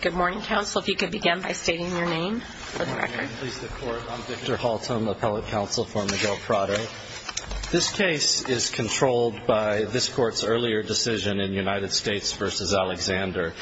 Good morning, counsel. If you could begin by stating your name for the record. I'm Victor Haltom, appellate counsel for Miguel Prado. This case is controlled by this Court's earlier decision in United States v. Alexander.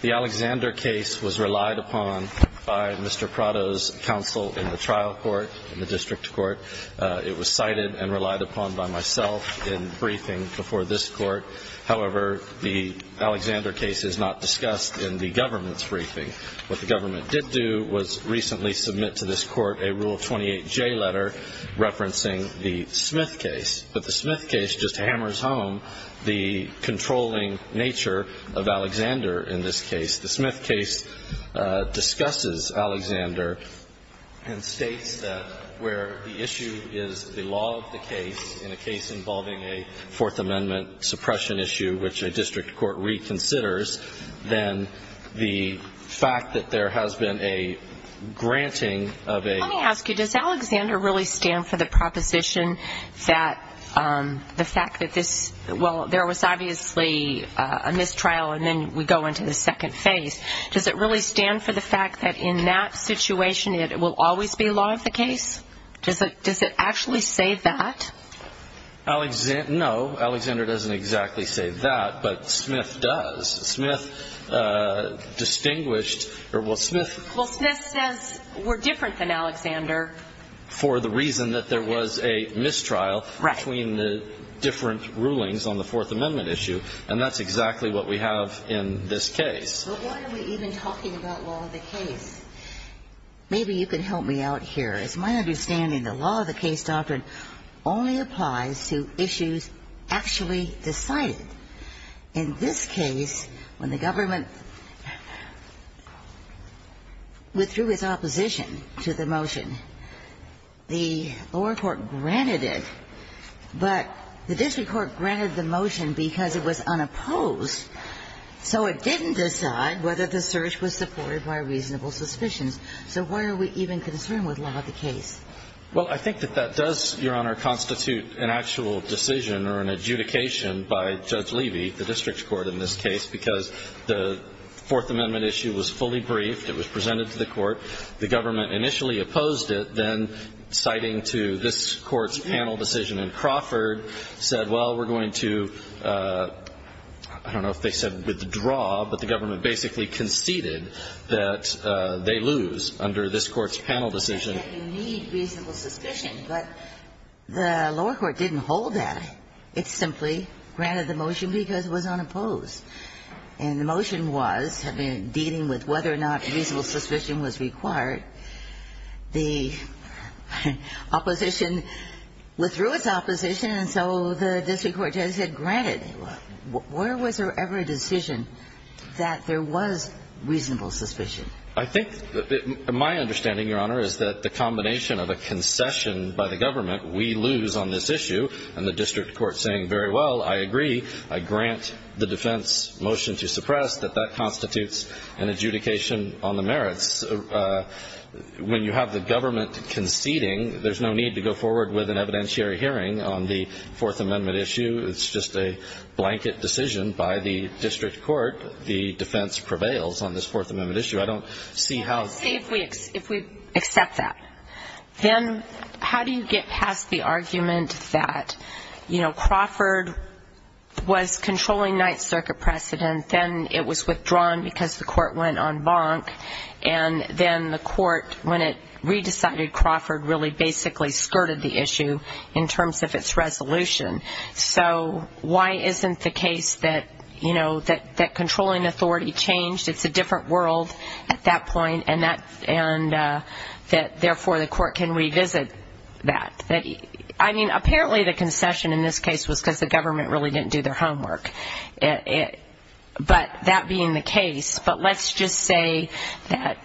The Alexander case was relied upon by Mr. Prado's counsel in the trial court, in the district court. It was cited and relied upon by myself in briefing before this Court. However, the Alexander case is not discussed in the government's briefing. What the government did do was recently submit to this Court a Rule 28J letter referencing the Smith case. But the Smith case just hammers home the controlling nature of Alexander in this case. The Smith case discusses Alexander and states that where the issue is the law of the case, in a case involving a Fourth Amendment suppression issue, which a district court reconsiders, then the fact that there has been a granting of a law. Let me ask you, does Alexander really stand for the proposition that the fact that this – well, there was obviously a mistrial and then we go into the second phase. Does it really stand for the fact that in that situation it will always be law of the case? Does it actually say that? No, Alexander doesn't exactly say that, but Smith does. Smith distinguished – well, Smith – Well, Smith says we're different than Alexander. For the reason that there was a mistrial between the different rulings on the Fourth Amendment issue. And that's exactly what we have in this case. But why are we even talking about law of the case? Maybe you can help me out here. It's my understanding the law of the case doctrine only applies to issues actually decided. In this case, when the government withdrew its opposition to the motion, the lower court granted it, but the district court granted the motion because it was unopposed. So it didn't decide whether the search was supported by reasonable suspicions. So why are we even concerned with law of the case? Well, I think that that does, Your Honor, constitute an actual decision or an adjudication by Judge Levy, the district court in this case, because the Fourth Amendment issue was fully briefed. It was presented to the court. The government initially opposed it, then citing to this court's panel decision in Crawford said, well, we're going to, I don't know if they said withdraw, but the government basically conceded that they lose under this court's panel decision. You need reasonable suspicion, but the lower court didn't hold that. It simply granted the motion because it was unopposed. And the motion was dealing with whether or not reasonable suspicion was required. The opposition withdrew its opposition, and so the district court just said, granted. Where was there ever a decision that there was reasonable suspicion? I think my understanding, Your Honor, is that the combination of a concession by the government, we lose on this issue, and the district court saying, very well, I agree, I grant the defense motion to suppress, that that constitutes an adjudication on the merits. When you have the government conceding, there's no need to go forward with an evidentiary hearing on the Fourth Amendment issue. It's just a blanket decision by the district court. The defense prevails on this Fourth Amendment issue. I don't see how the ---- If we accept that, then how do you get past the argument that, you know, Crawford was controlling Ninth Circuit precedent, and then it was withdrawn because the court went on bonk, and then the court, when it re-decided Crawford, really basically skirted the issue in terms of its resolution. So why isn't the case that, you know, that controlling authority changed? It's a different world at that point, and therefore the court can revisit that. I mean, apparently the concession in this case was because the government really didn't do their homework. But that being the case, but let's just say that,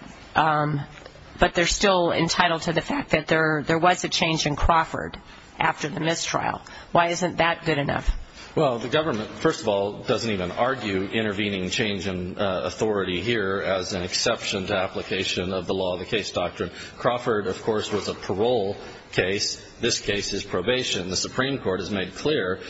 but they're still entitled to the fact that there was a change in Crawford after the mistrial. Why isn't that good enough? Well, the government, first of all, doesn't even argue intervening change in authority here as an exception to application of the law of the case doctrine. Crawford, of course, was a parole case. This case is probation. The Supreme Court has made clear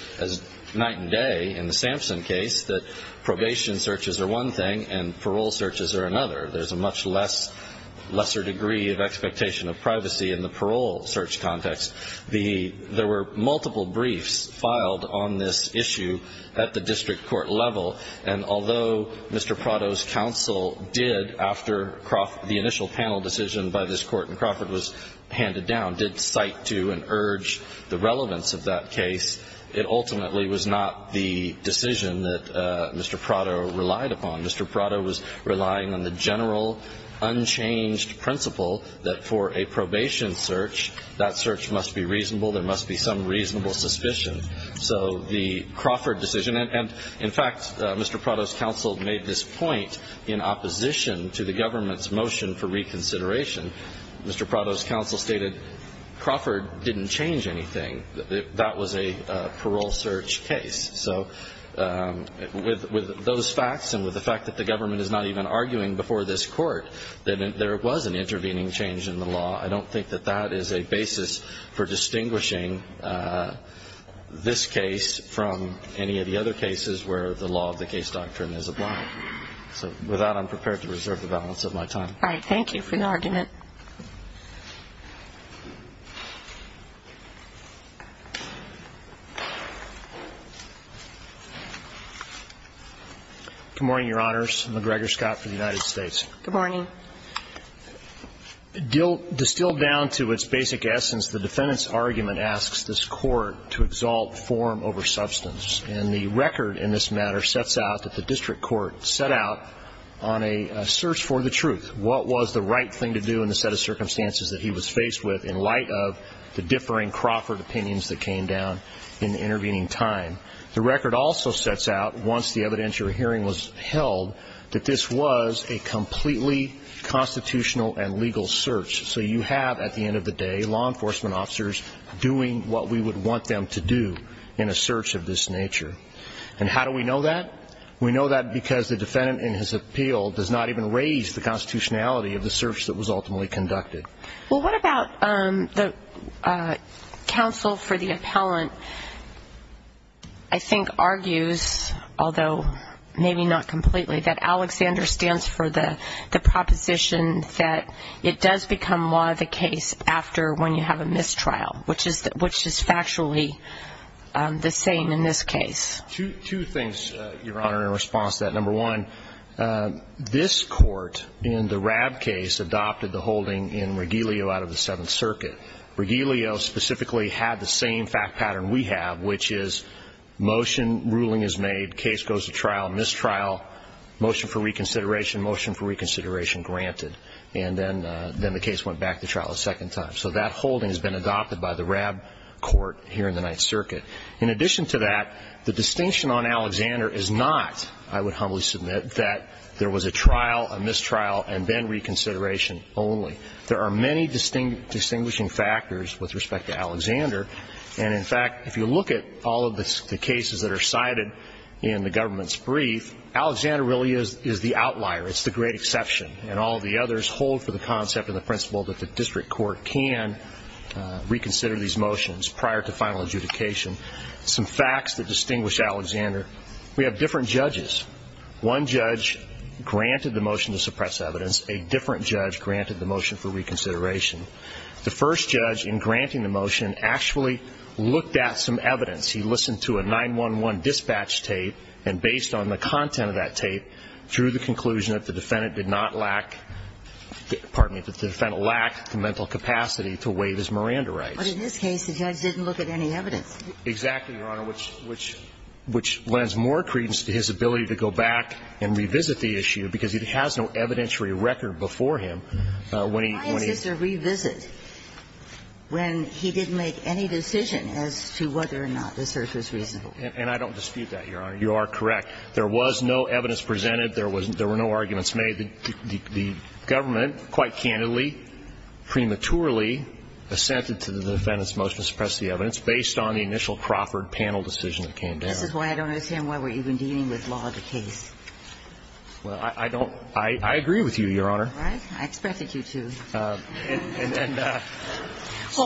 night and day in the Sampson case that probation searches are one thing and parole searches are another. There's a much lesser degree of expectation of privacy in the parole search context. There were multiple briefs filed on this issue at the district court level, and although Mr. Prado's counsel did, after the initial panel decision by this court in Crawford was handed down, did cite to and urge the relevance of that case, it ultimately was not the decision that Mr. Prado relied upon. Mr. Prado was relying on the general unchanged principle that for a probation search, that search must be reasonable, there must be some reasonable suspicion. So the Crawford decision, and, in fact, Mr. Prado's counsel made this point in opposition to the government's motion for reconsideration. Mr. Prado's counsel stated Crawford didn't change anything. That was a parole search case. So with those facts and with the fact that the government is not even arguing before this court that there was an intervening change in the law, I don't think that that is a basis for distinguishing this case from any of the other cases where the law of the case doctrine is applied. So with that, I'm prepared to reserve the balance of my time. All right. Thank you for the argument. Good morning, Your Honors. McGregor Scott for the United States. Good morning. Distilled down to its basic essence, the defendant's argument asks this court to exalt form over substance. And the record in this matter sets out that the district court set out on a search for the truth, what was the right thing to do in the set of circumstances that he was faced with in light of the differing Crawford opinions that came down in the intervening time. The record also sets out, once the evidentiary hearing was held, that this was a completely constitutional and legal search. So you have, at the end of the day, law enforcement officers doing what we would want them to do in a search of this nature. And how do we know that? We know that because the defendant in his appeal does not even raise the constitutionality of the search that was ultimately conducted. Well, what about the counsel for the appellant, I think, argues, although maybe not completely, that Alexander stands for the proposition that it does become law the case after when you have a mistrial, which is factually the same in this case. Two things, Your Honor, in response to that. Number one, this court in the RAB case adopted the holding in Regilio out of the Seventh Circuit. Regilio specifically had the same fact pattern we have, which is motion, ruling is made, case goes to trial, mistrial, motion for reconsideration, granted, and then the case went back to trial a second time. So that holding has been adopted by the RAB court here in the Ninth Circuit. In addition to that, the distinction on Alexander is not, I would humbly submit, that there was a trial, a mistrial, and then reconsideration only. There are many distinguishing factors with respect to Alexander. And, in fact, if you look at all of the cases that are cited in the government's brief, Alexander really is the outlier. It's the great exception, and all of the others hold for the concept and the principle that the district court can reconsider these motions prior to final adjudication. Some facts that distinguish Alexander, we have different judges. One judge granted the motion to suppress evidence. A different judge granted the motion for reconsideration. The first judge, in granting the motion, actually looked at some evidence. He listened to a 9-1-1 dispatch tape, and based on the content of that tape, drew the conclusion that the defendant did not lack the mental capacity to waive his Miranda rights. But in this case, the judge didn't look at any evidence. Exactly, Your Honor, which lends more credence to his ability to go back and revisit the issue, because it has no evidentiary record before him. Why is this a revisit when he didn't make any decision as to whether or not this search was reasonable? And I don't dispute that, Your Honor. You are correct. There was no evidence presented. There were no arguments made. The government, quite candidly, prematurely assented to the defendant's motion to suppress the evidence based on the initial Crawford panel decision that came down. This is why I don't understand why we're even dealing with law as a case. Well, I don't ñ I agree with you, Your Honor. All right. I expected you to. Well,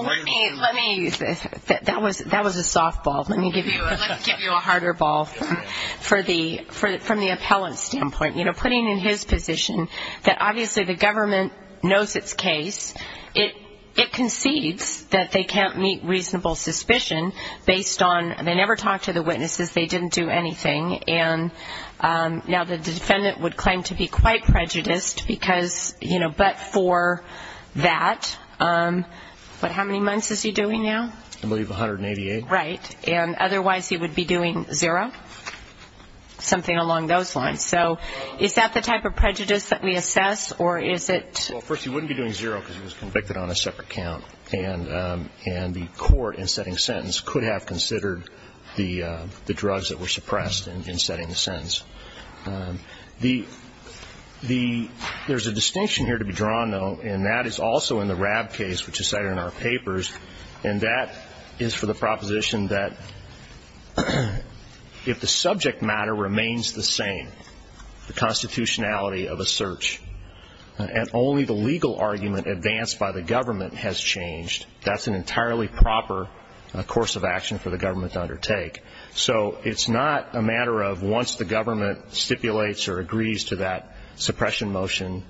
let me ñ that was a softball. Let me give you a harder ball from the appellant's standpoint. You know, putting in his position that obviously the government knows its case, it concedes that they can't meet reasonable suspicion based on they never talked to the witnesses, they didn't do anything. And now the defendant would claim to be quite prejudiced because, you know, he didn't do anything, but for that ñ what, how many months is he doing now? I believe 188. Right. And otherwise he would be doing zero, something along those lines. So is that the type of prejudice that we assess, or is it ñ Well, first, he wouldn't be doing zero because he was convicted on a separate count. And the court in setting the sentence could have considered the drugs that were suppressed in setting the sentence. The ñ there's a distinction here to be drawn, though, and that is also in the RAB case which is cited in our papers. And that is for the proposition that if the subject matter remains the same, the constitutionality of a search, and only the legal argument advanced by the government has changed, that's an entirely proper course of action for the government to undertake. So it's not a matter of once the government stipulates or agrees to that suppression motion.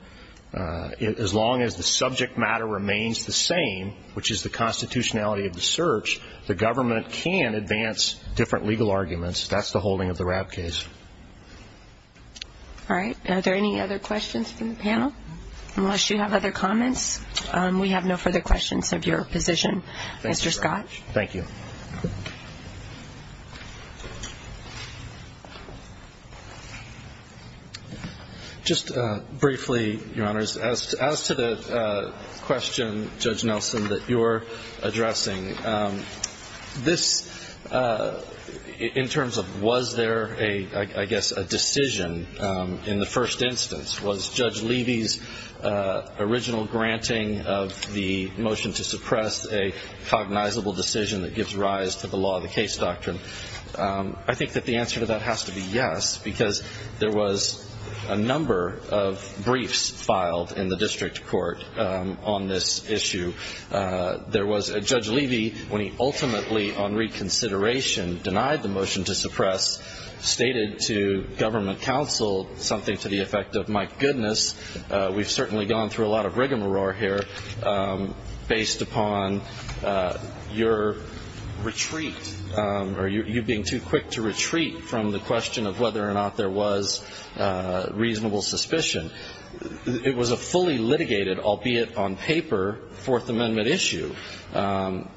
As long as the subject matter remains the same, which is the constitutionality of the search, the government can advance different legal arguments. That's the holding of the RAB case. All right. Are there any other questions from the panel? Unless you have other comments, we have no further questions of your position, Mr. Scott. Thank you. Just briefly, Your Honors, as to the question, Judge Nelson, that you're addressing, this ñ in terms of was there a ñ I guess a decision in the first instance, was Judge Levy's original granting of the motion to suppress a cognizable decision that gives rise to the law of the case doctrine? I think that the answer to that has to be yes, because there was a number of briefs filed in the district court on this issue. There was ñ Judge Levy, when he ultimately, on reconsideration, denied the motion to suppress, stated to government counsel something to the effect of, my goodness, we've certainly gone through a lot of rigmarole here based upon your retreat or you being too quick to retreat from the question of whether or not there was reasonable suspicion. It was a fully litigated, albeit on paper, Fourth Amendment issue. And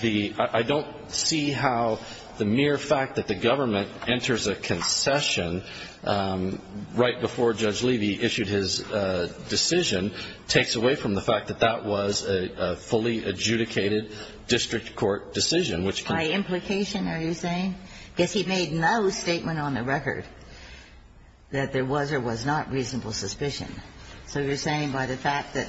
the ñ I don't see how the mere fact that the government enters a concession right before Judge Levy issued his decision takes away from the fact that that was a fully adjudicated district court decision, which ñ By implication, are you saying? Because he made no statement on the record that there was or was not reasonable suspicion. So you're saying by the fact that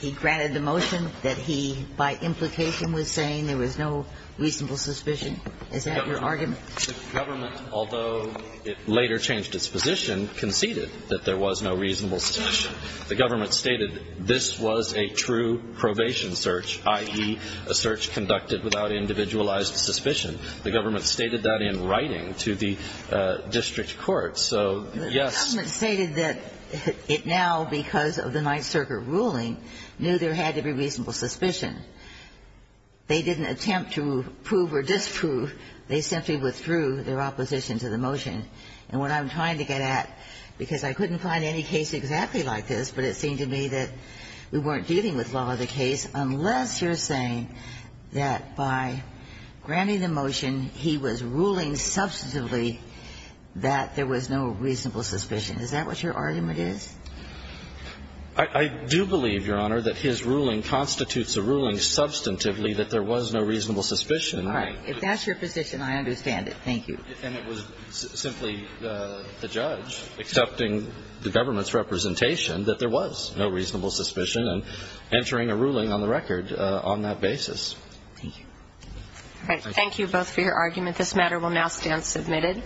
he granted the motion that he, by implication, was saying there was no reasonable suspicion? Is that your argument? The government, although it later changed its position, conceded that there was no reasonable suspicion. The government stated this was a true probation search, i.e., a search conducted without individualized suspicion. The government stated that in writing to the district court. So, yes. The government stated that it now, because of the Ninth Circuit ruling, knew there had to be reasonable suspicion. They didn't attempt to prove or disprove. They simply withdrew their opposition to the motion. And what I'm trying to get at, because I couldn't find any case exactly like this, but it seemed to me that we weren't dealing with law of the case, unless you're saying that by granting the motion he was ruling substantively that there was no reasonable suspicion. Is that what your argument is? I do believe, Your Honor, that his ruling constitutes a ruling substantively that there was no reasonable suspicion. Right. If that's your position, I understand it. Thank you. And it was simply the judge accepting the government's representation that there was no reasonable suspicion and entering a ruling on the record on that basis. Thank you. All right. Thank you both for your argument. This matter will now stand submitted.